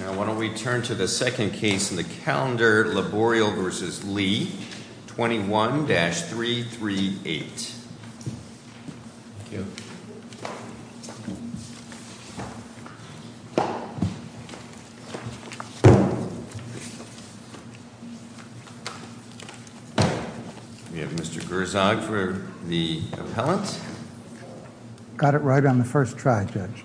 Now why don't we turn to the second case in the calendar, Laboriel v. Lee, 21-338. We have Mr. Gerzog for the appellant. Got it right on the first try, Judge.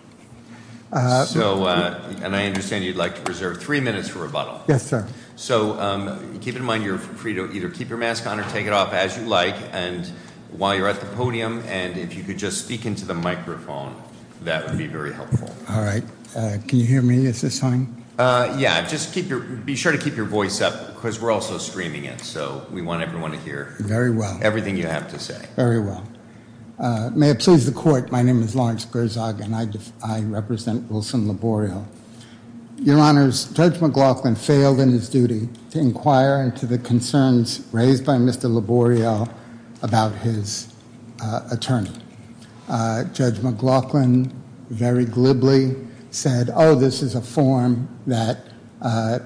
So, and I understand you'd like to preserve three minutes for rebuttal. Yes, sir. So keep in mind you're free to either keep your mask on or take it off as you like and while you're at the podium. And if you could just speak into the microphone, that would be very helpful. All right. Can you hear me? Is this on? Yeah, just keep your be sure to keep your voice up because we're also streaming it. So we want everyone to hear. Very well. Everything you have to say. Very well. May it please the court. My name is Lawrence Gerzog and I represent Wilson Laboriel. Your Honors, Judge McLaughlin failed in his duty to inquire into the concerns raised by Mr. Laboriel about his attorney. Judge McLaughlin very glibly said, oh, this is a form that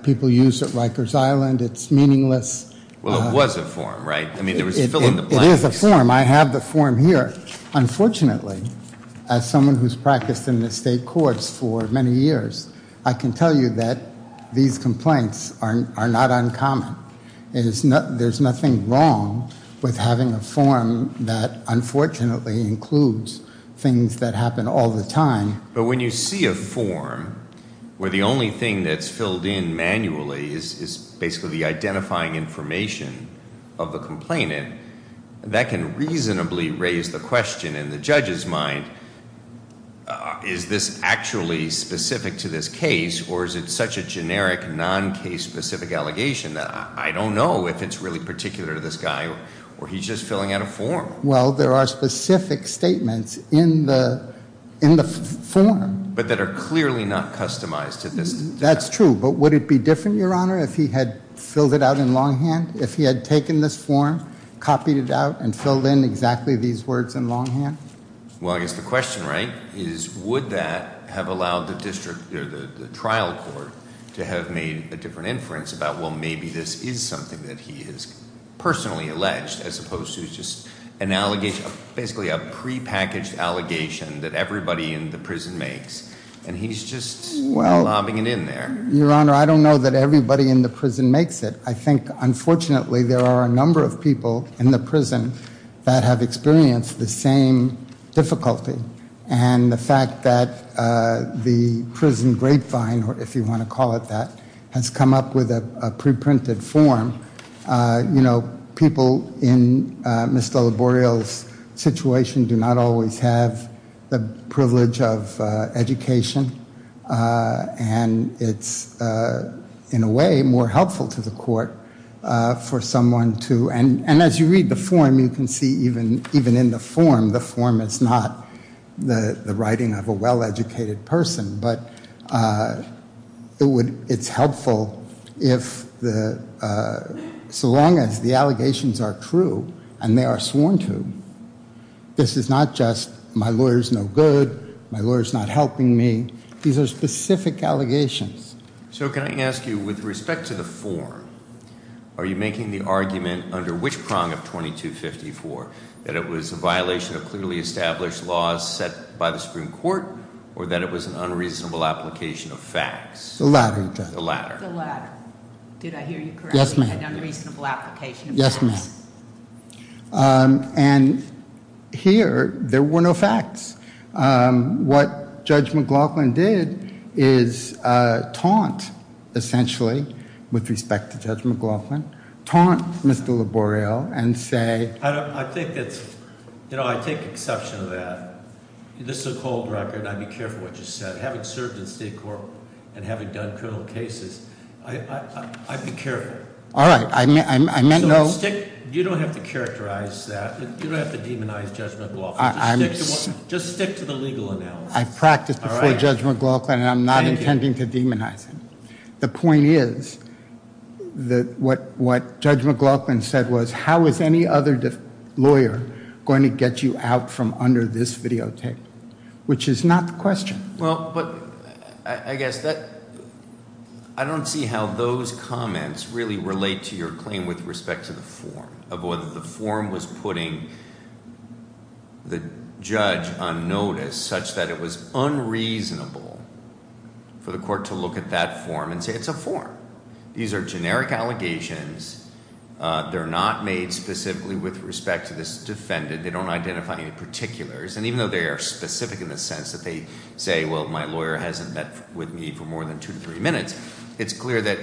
people use at Rikers Island. It's meaningless. Well, it was a form, right? I mean, there was a fill in the blank. It is a form. I have the form here. Unfortunately, as someone who's practiced in the state courts for many years, I can tell you that these complaints are not uncommon. There's nothing wrong with having a form that unfortunately includes things that happen all the time. But when you see a form where the only thing that's filled in manually is basically the identifying information of the complainant, that can reasonably raise the question in the judge's mind, is this actually specific to this case or is it such a generic non-case specific allegation that I don't know if it's really particular to this guy or he's just filling out a form. Well, there are specific statements in the form. But that are clearly not customized to this. That's true. But would it be different, Your Honor, if he had filled it out in longhand? If he had taken this form, copied it out, and filled in exactly these words in longhand? Well, I guess the question, right, is would that have allowed the district or the trial court to have made a different inference about, well, maybe this is something that he has personally alleged as opposed to just an allegation, basically a prepackaged allegation that everybody in the prison makes. And he's just lobbing it in there. Your Honor, I don't know that everybody in the prison makes it. I think, unfortunately, there are a number of people in the prison that have experienced the same difficulty. And the fact that the prison grapevine, if you want to call it that, has come up with a preprinted form, you know, people in Mr. Laboreal's situation do not always have the privilege of education. And it's, in a way, more helpful to the court for someone to, and as you read the form, you can see even in the form, the form is not the writing of a well-educated person, but it's helpful if the, so long as the allegations are true and they are sworn to. This is not just my lawyer's no good, my lawyer's not helping me. These are specific allegations. So can I ask you, with respect to the form, are you making the argument under which prong of 2254, that it was a violation of clearly established laws set by the Supreme Court, or that it was an unreasonable application of facts? The latter, Your Honor. The latter. The latter. Did I hear you correctly? Yes, ma'am. An unreasonable application of facts? Yes, ma'am. And here, there were no facts. What Judge McLaughlin did is taunt, essentially, with respect to Judge McLaughlin, taunt Mr. Laboreal and say- I think it's, you know, I take exception to that. This is a cold record. I'd be careful what you said. Having served in state court and having done criminal cases, I'd be careful. All right, I meant no- So stick, you don't have to characterize that. You don't have to demonize Judge McLaughlin. Just stick to the legal analysis. I practiced before Judge McLaughlin, and I'm not intending to demonize him. The point is that what Judge McLaughlin said was, how is any other lawyer going to get you out from under this videotape? Which is not the question. Well, but I guess that, I don't see how those comments really relate to your claim with respect to the form, of whether the form was putting the judge on notice, such that it was unreasonable for the court to look at that form and say it's a form. These are generic allegations. They're not made specifically with respect to this defendant. They don't identify any particulars. And even though they are specific in the sense that they say, well, my lawyer hasn't met with me for more than two to three minutes, it's clear that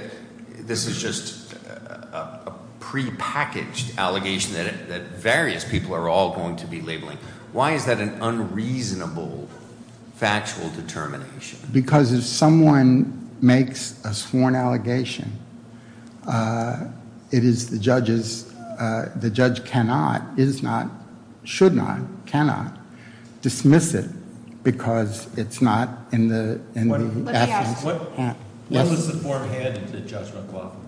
this is just a prepackaged allegation that various people are all going to be labeling. Why is that an unreasonable factual determination? Because if someone makes a sworn allegation, it is the judge's, the judge cannot, is not, should not, cannot dismiss it, because it's not in the evidence. When was the form handed to Judge McLaughlin?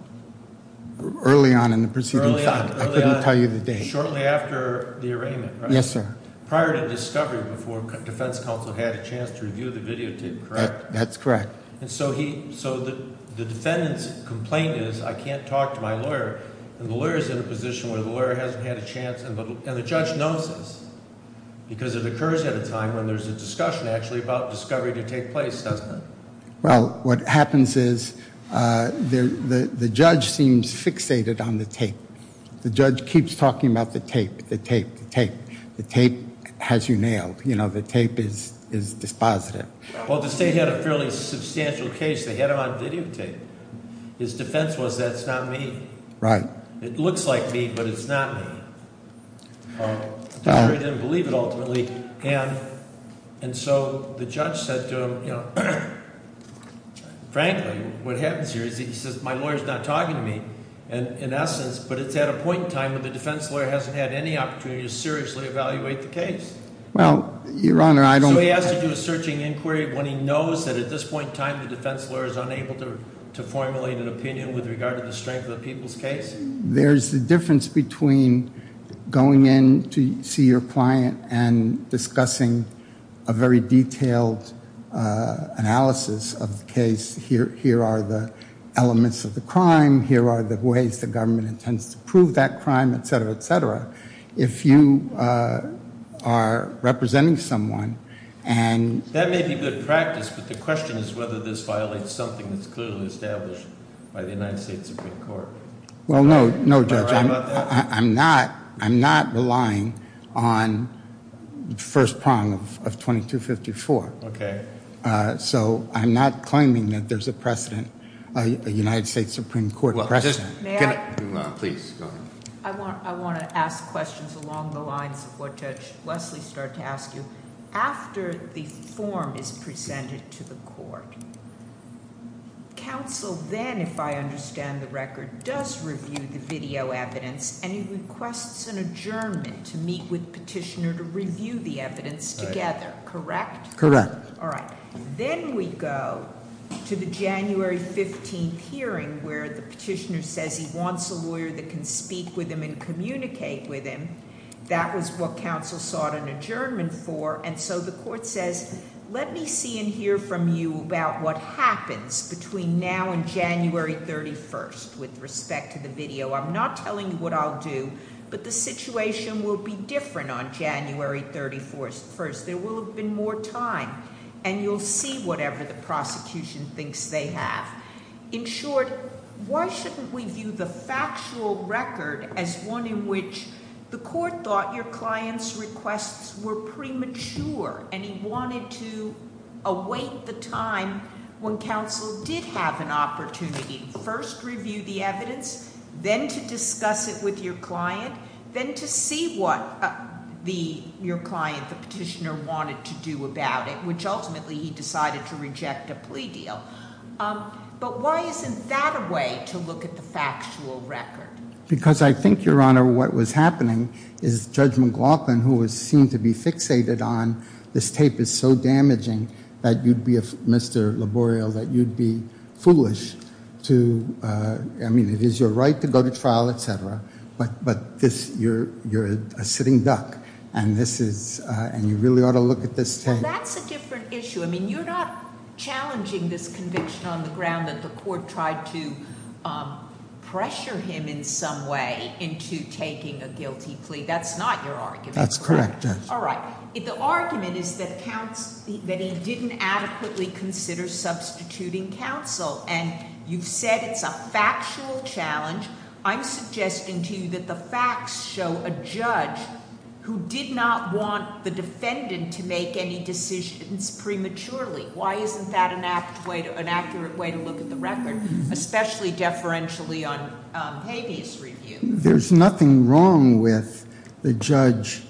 Early on in the proceeding. Early on. I couldn't tell you the date. Shortly after the arraignment, right? Yes, sir. Prior to discovery, before defense counsel had a chance to review the videotape, correct? That's correct. And so the defendant's complaint is, I can't talk to my lawyer, and the lawyer is in a position where the lawyer hasn't had a chance, and the judge knows this, because it occurs at a time when there's a discussion, actually, about discovery to take place, doesn't it? Well, what happens is the judge seems fixated on the tape. The judge keeps talking about the tape, the tape, the tape. The tape has you nailed. You know, the tape is dispositive. Well, the state had a fairly substantial case. They had him on videotape. His defense was, that's not me. Right. It looks like me, but it's not me. The jury didn't believe it, ultimately. And so the judge said to him, you know, frankly, what happens here is he says, my lawyer is not talking to me, in essence, but it's at a point in time when the defense lawyer hasn't had any opportunity to seriously evaluate the case. Well, Your Honor, I don't So he has to do a searching inquiry when he knows that at this point in time the defense lawyer is unable to formulate an opinion with regard to the strength of the people's case? There's the difference between going in to see your client and discussing a very detailed analysis of the case. Here are the elements of the crime. Here are the ways the government intends to prove that crime, et cetera, et cetera. If you are representing someone and That may be good practice, but the question is whether this violates something that's clearly established by the United States Supreme Court. Well, no, no, Judge. I'm not relying on the first prong of 2254. Okay. So I'm not claiming that there's a precedent, a United States Supreme Court precedent. May I? Please, go ahead. I want to ask questions along the lines of what Judge Leslie started to ask you. After the form is presented to the court, counsel then, if I understand the record, does review the video evidence and he requests an adjournment to meet with petitioner to review the evidence together, correct? Correct. All right. Then we go to the January 15th hearing where the petitioner says he wants a lawyer that can speak with him and communicate with him. That was what counsel sought an adjournment for, and so the court says, let me see and hear from you about what happens between now and January 31st with respect to the video. I'm not telling you what I'll do, but the situation will be different on January 31st. There will have been more time, and you'll see whatever the prosecution thinks they have. In short, why shouldn't we view the factual record as one in which the court thought your client's requests were premature and he wanted to await the time when counsel did have an opportunity to first review the evidence, then to discuss it with your client, then to see what your client, the petitioner, wanted to do about it, which ultimately he decided to reject a plea deal. But why isn't that a way to look at the factual record? Because I think, Your Honor, what was happening is Judge McLaughlin, who was seen to be fixated on this tape is so damaging that you'd be, Mr. Laborio, that you'd be foolish to, I mean, it is your right to go to trial, et cetera, but this, you're a sitting duck, and you really ought to look at this tape. Well, that's a different issue. I mean, you're not challenging this conviction on the ground that the court tried to pressure him in some way into taking a guilty plea. That's not your argument, correct? That's correct, Judge. All right. The argument is that he didn't adequately consider substituting counsel, and you've said it's a factual challenge. I'm suggesting to you that the facts show a judge who did not want the defendant to make any decisions prematurely. Why isn't that an accurate way to look at the record, especially deferentially on habeas review? There's nothing wrong with the judge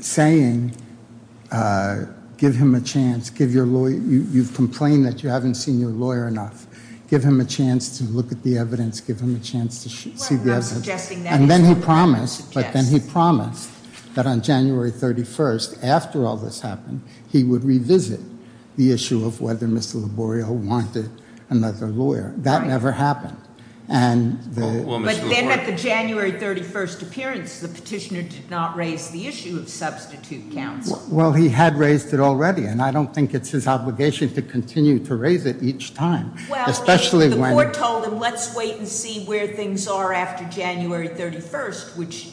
saying, give him a chance, give your lawyer, you've complained that you haven't seen your lawyer enough. Give him a chance to look at the evidence, give him a chance to see the evidence. And then he promised, but then he promised that on January 31st, after all this happened, he would revisit the issue of whether Mr. Laborio wanted another lawyer. That never happened. But then at the January 31st appearance, the petitioner did not raise the issue of substitute counsel. Well, he had raised it already, and I don't think it's his obligation to continue to raise it each time. Well, the court told him, let's wait and see where things are after January 31st, which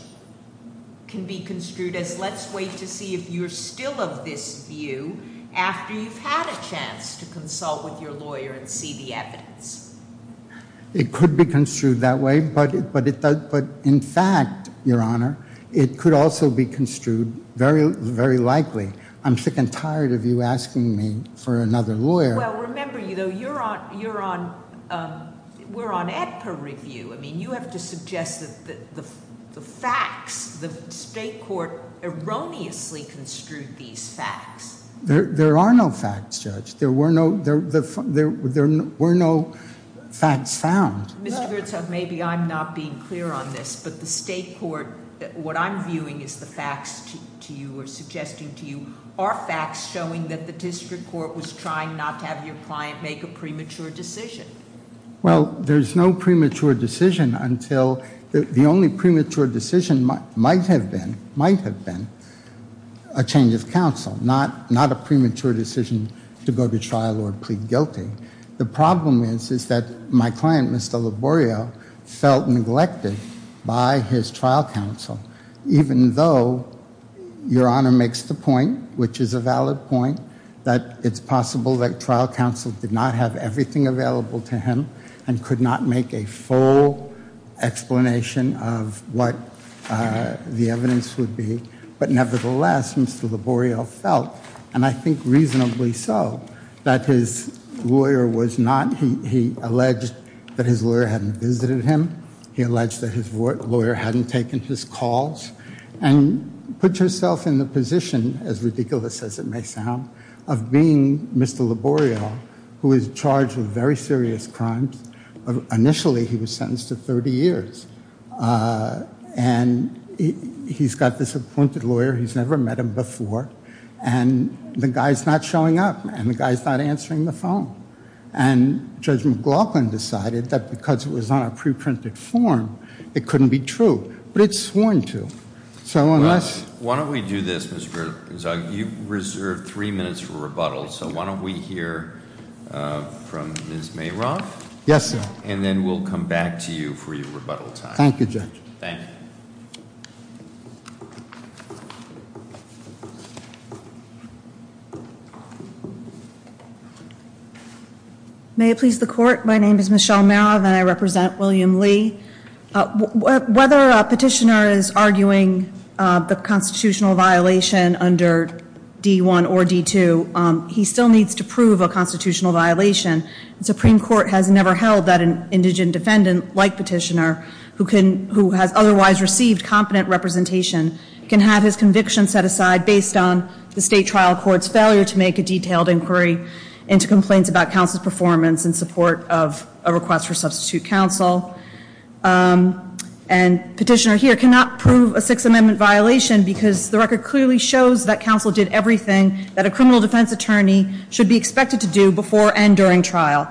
can be construed as let's wait to see if you're still of this view after you've had a chance to consult with your lawyer and see the evidence. It could be construed that way, but in fact, Your Honor, it could also be construed very likely. I'm sick and tired of you asking me for another lawyer. Well, remember, we're on ADPA review. I mean, you have to suggest that the facts, the state court erroneously construed these facts. There are no facts, Judge. There were no facts found. Mr. Gertzog, maybe I'm not being clear on this, but the state court, what I'm viewing is the facts to you are facts showing that the district court was trying not to have your client make a premature decision. Well, there's no premature decision until the only premature decision might have been a change of counsel, not a premature decision to go to trial or plead guilty. The problem is that my client, Mr. Laborio, felt neglected by his trial counsel, even though Your Honor makes the point, which is a valid point, that it's possible that trial counsel did not have everything available to him and could not make a full explanation of what the evidence would be. But nevertheless, Mr. Laborio felt, and I think reasonably so, that his lawyer was not, he alleged that his lawyer hadn't visited him. He alleged that his lawyer hadn't taken his calls and put herself in the position, as ridiculous as it may sound, of being Mr. Laborio, who is charged with very serious crimes. Initially, he was sentenced to 30 years, and he's got this appointed lawyer. He's never met him before, and the guy's not showing up, and the guy's not answering the phone. And Judge McLaughlin decided that because it was on a pre-printed form, it couldn't be true. But it's sworn to. So unless- Well, why don't we do this, Mr. Zugg? You've reserved three minutes for rebuttal, so why don't we hear from Ms. Mayroth? Yes, sir. And then we'll come back to you for your rebuttal time. Thank you, Judge. Thank you. May it please the Court. My name is Michelle Mayroth, and I represent William Lee. Whether a petitioner is arguing the constitutional violation under D-1 or D-2, he still needs to prove a constitutional violation. The Supreme Court has never held that an indigent defendant, like Petitioner, who has otherwise received competent representation, can have his conviction set aside based on the state trial court's failure to make a detailed inquiry into complaints about counsel's performance in support of a request for substitute counsel. And Petitioner here cannot prove a Sixth Amendment violation because the record clearly shows that counsel did everything that a criminal defense attorney should be expected to do before and during trial.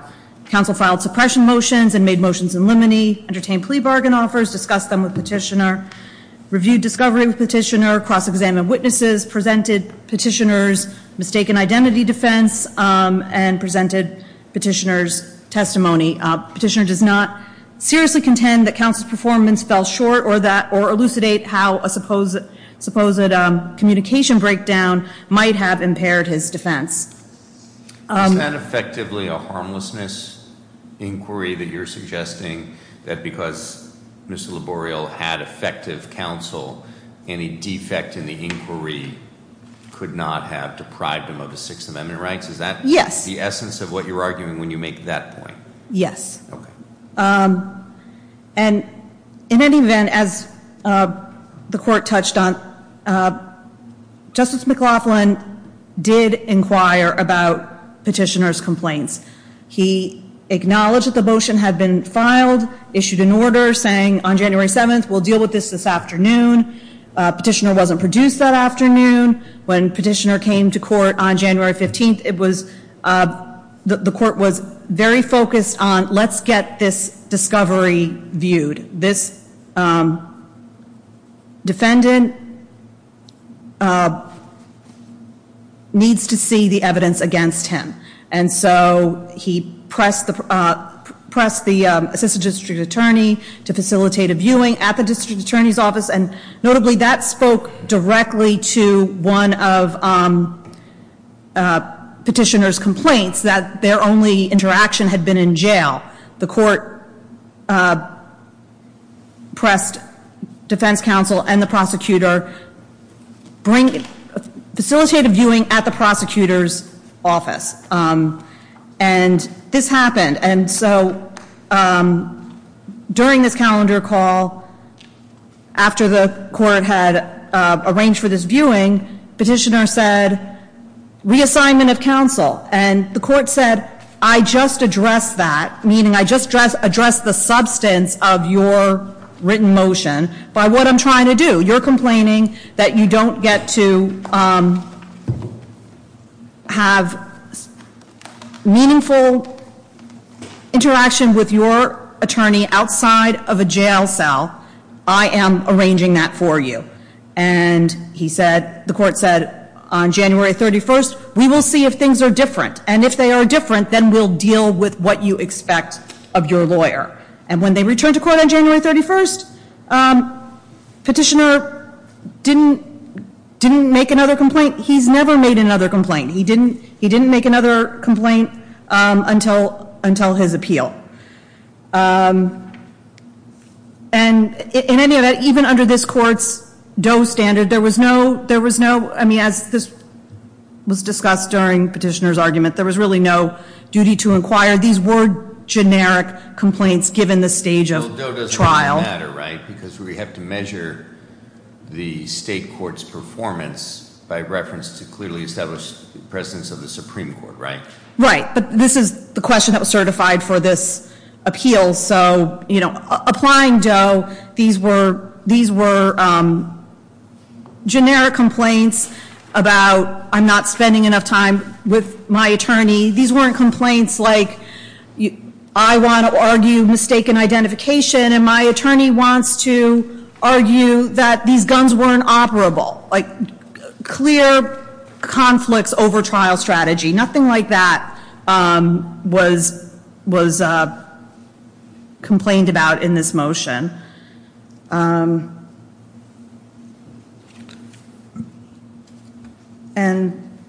Counsel filed suppression motions and made motions in limine, entertained plea bargain offers, discussed them with Petitioner, reviewed discovery with Petitioner, cross-examined witnesses, presented Petitioner's mistaken identity defense, and presented Petitioner's testimony. Petitioner does not seriously contend that counsel's performance fell short or elucidate how a supposed communication breakdown might have impaired his defense. Is that effectively a harmlessness inquiry that you're suggesting, that because Mr. Laboreal had effective counsel, any defect in the inquiry could not have deprived him of the Sixth Amendment rights? Is that the essence of what you're arguing when you make that point? Yes. Okay. And in any event, as the Court touched on, Justice McLaughlin did inquire about Petitioner's complaints. He acknowledged that the motion had been filed, issued an order saying, on January 7th, we'll deal with this this afternoon. Petitioner wasn't produced that afternoon. When Petitioner came to court on January 15th, the Court was very focused on let's get this discovery viewed. This defendant needs to see the evidence against him. And so he pressed the assistant district attorney to facilitate a viewing at the district attorney's office, and notably that spoke directly to one of Petitioner's complaints that their only interaction had been in jail. The Court pressed defense counsel and the prosecutor, facilitate a viewing at the prosecutor's office. And this happened. And so during this calendar call, after the Court had arranged for this viewing, Petitioner said, reassignment of counsel. And the Court said, I just addressed that, meaning I just addressed the substance of your written motion by what I'm trying to do. You're complaining that you don't get to have meaningful interaction with your attorney outside of a jail cell. I am arranging that for you. And the Court said, on January 31st, we will see if things are different. And if they are different, then we'll deal with what you expect of your lawyer. And when they returned to court on January 31st, Petitioner didn't make another complaint. He's never made another complaint. He didn't make another complaint until his appeal. And in any event, even under this Court's Doe standard, there was no, I mean, as was discussed during Petitioner's argument, there was really no duty to inquire. These were generic complaints given the stage of trial. Well, Doe doesn't really matter, right? Because we have to measure the State Court's performance by reference to clearly established presence of the Supreme Court, right? Right. But this is the question that was certified for this appeal. So, you know, applying Doe, these were generic complaints about, I'm not spending enough time with my attorney. These weren't complaints like, I want to argue mistaken identification and my attorney wants to argue that these guns weren't operable. Like, clear conflicts over trial strategy. Nothing like that was complained about in this motion. And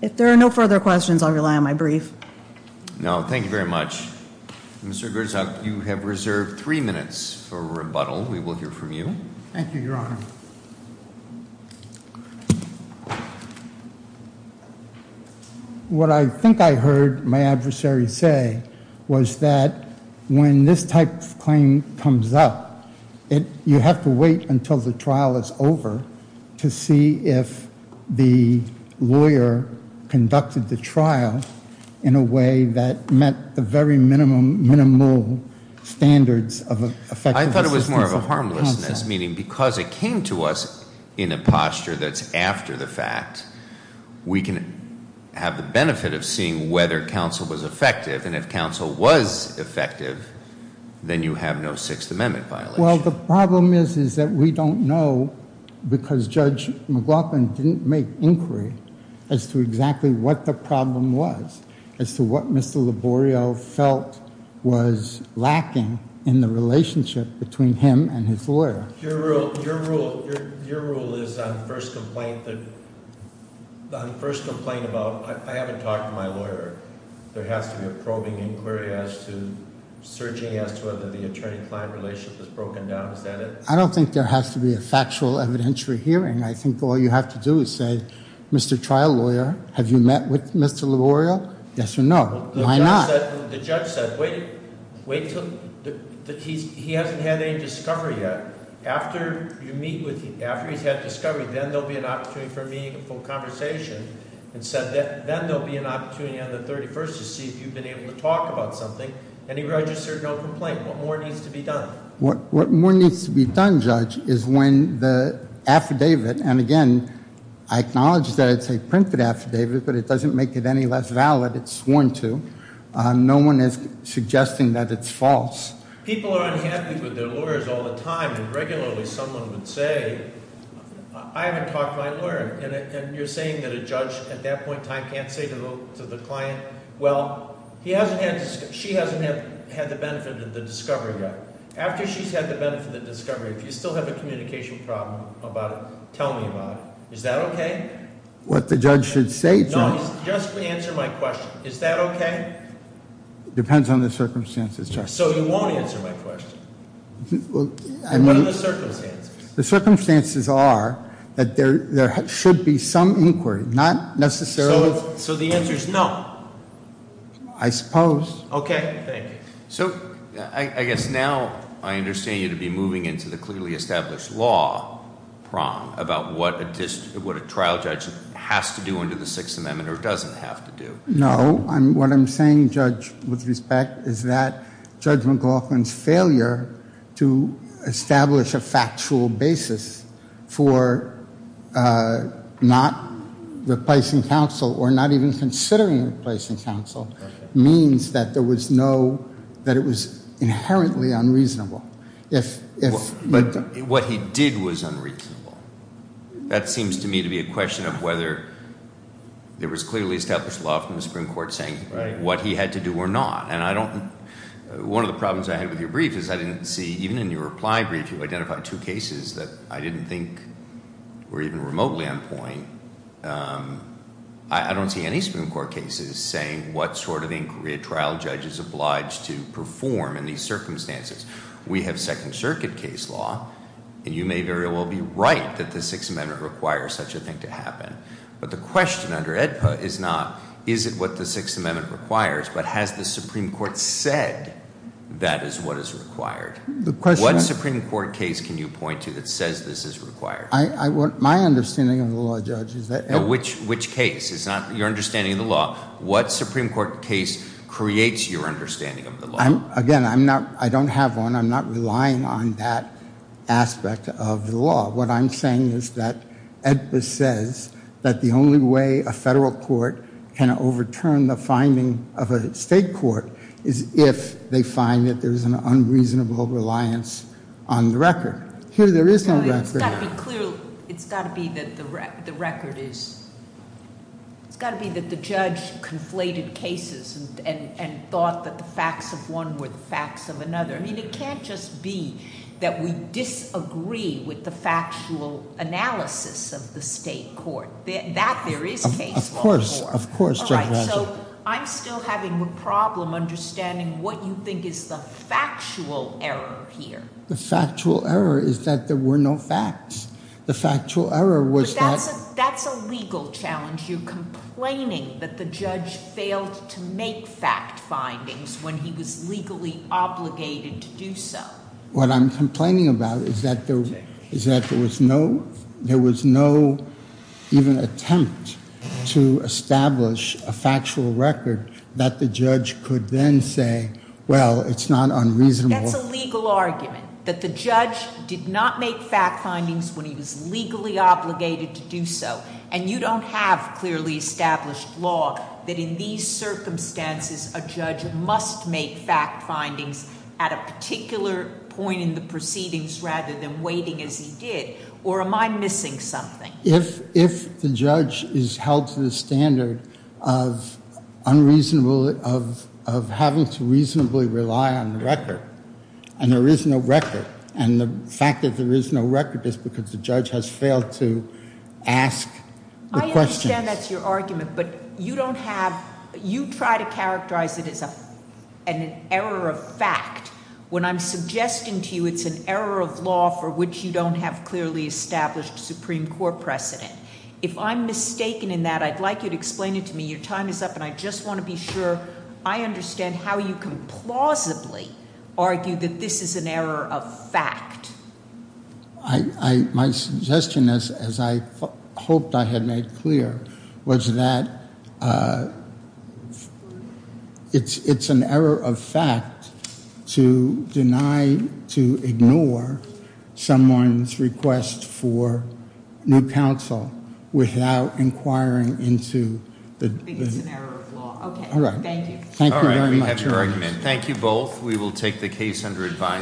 if there are no further questions, I'll rely on my brief. No, thank you very much. Mr. Grzeszak, you have reserved three minutes for rebuttal. We will hear from you. Thank you, Your Honor. What I think I heard my adversary say was that when this type of claim comes up, you have to wait until the trial is over to see if the lawyer conducted the trial in a way that met the very minimal standards of effective assistance of counsel. I thought it was more of a harmlessness, meaning because it came to us in a posture that's after the fact, we can have the benefit of seeing whether counsel was effective, and if counsel was effective, then you have no Sixth Amendment violation. Well, the problem is that we don't know because Judge McLaughlin didn't make inquiry as to exactly what the problem was, as to what Mr. Laborio felt was lacking in the relationship between him and his lawyer. Your rule is on the first complaint about, I haven't talked to my lawyer. There has to be a probing inquiry surging as to whether the attorney-client relationship is broken down. Is that it? I don't think there has to be a factual evidentiary hearing. I think all you have to do is say, Mr. Trial Lawyer, have you met with Mr. Laborio? Yes or no? Why not? The judge said, wait until he hasn't had any discovery yet. After you meet with him, after he's had discovery, then there will be an opportunity for a meaningful conversation. Then there will be an opportunity on the 31st to see if you've been able to talk about something, and he registered no complaint. What more needs to be done? What more needs to be done, Judge, is when the affidavit, and again, I acknowledge that it's a printed affidavit, but it doesn't make it any less valid. It's sworn to. No one is suggesting that it's false. People are unhappy with their lawyers all the time, and regularly someone would say, I haven't talked to my lawyer, and you're saying that a judge at that point in time can't say to the client, well, he hasn't had, she hasn't had the benefit of the discovery yet. After she's had the benefit of the discovery, if you still have a communication problem about it, tell me about it. Is that okay? What the judge should say to him. No, just answer my question. Is that okay? Depends on the circumstances, Judge. So he won't answer my question. What are the circumstances? The circumstances are that there should be some inquiry, not necessarily. So the answer is no? I suppose. Okay, thank you. So I guess now I understand you to be moving into the clearly established law prong about what a trial judge has to do under the Sixth Amendment or doesn't have to do. No, what I'm saying, Judge, with respect, is that Judge McLaughlin's failure to establish a factual basis for not replacing counsel or not even considering replacing counsel means that there was no, that it was inherently unreasonable. But what he did was unreasonable. That seems to me to be a question of whether there was clearly established law from the Supreme Court saying what he had to do or not. And I don't, one of the problems I had with your brief is I didn't see, even in your reply brief you identified two cases that I didn't think were even remotely on point. I don't see any Supreme Court cases saying what sort of inquiry a trial judge is obliged to perform in these circumstances. We have Second Circuit case law, and you may very well be right that the Sixth Amendment requires such a thing to happen. But the question under AEDPA is not is it what the Sixth Amendment requires, but has the Supreme Court said that is what is required? What Supreme Court case can you point to that says this is required? My understanding of the law, Judge, is that AEDPA No, which case? It's not your understanding of the law. What Supreme Court case creates your understanding of the law? Again, I'm not, I don't have one. I'm not relying on that aspect of the law. What I'm saying is that AEDPA says that the only way a federal court can overturn the finding of a state court is if they find that there's an unreasonable reliance on the record. Here there is no record. It's got to be clear, it's got to be that the record is, it's got to be that the judge conflated cases and thought that the facts of one were the facts of another. I mean, it can't just be that we disagree with the factual analysis of the state court. That there is case law. Of course, of course. All right, so I'm still having a problem understanding what you think is the factual error here. The factual error is that there were no facts. The factual error was that That's a legal challenge. You're complaining that the judge failed to make fact findings when he was legally obligated to do so. What I'm complaining about is that there was no, there was no even attempt to establish a factual record that the judge could then say, well, it's not unreasonable. That's a legal argument. That the judge did not make fact findings when he was legally obligated to do so. And you don't have clearly established law that in these circumstances, a judge must make fact findings at a particular point in the proceedings rather than waiting as he did. Or am I missing something? If the judge is held to the standard of unreasonable, of having to reasonably rely on the record, and there is no record, and the fact that there is no record is because the judge has failed to ask the questions. I understand that's your argument, but you don't have, you try to characterize it as an error of fact when I'm suggesting to you it's an error of law for which you don't have clearly established Supreme Court precedent. If I'm mistaken in that, I'd like you to explain it to me. Your time is up, and I just want to be sure I understand how you can plausibly argue that this is an error of fact. My suggestion, as I hoped I had made clear, was that it's an error of fact to deny, to ignore someone's request for new counsel without inquiring into the... It's an error of law. All right. Thank you. Thank you very much. All right, we have your argument. Thank you both. We will take the case under advisory.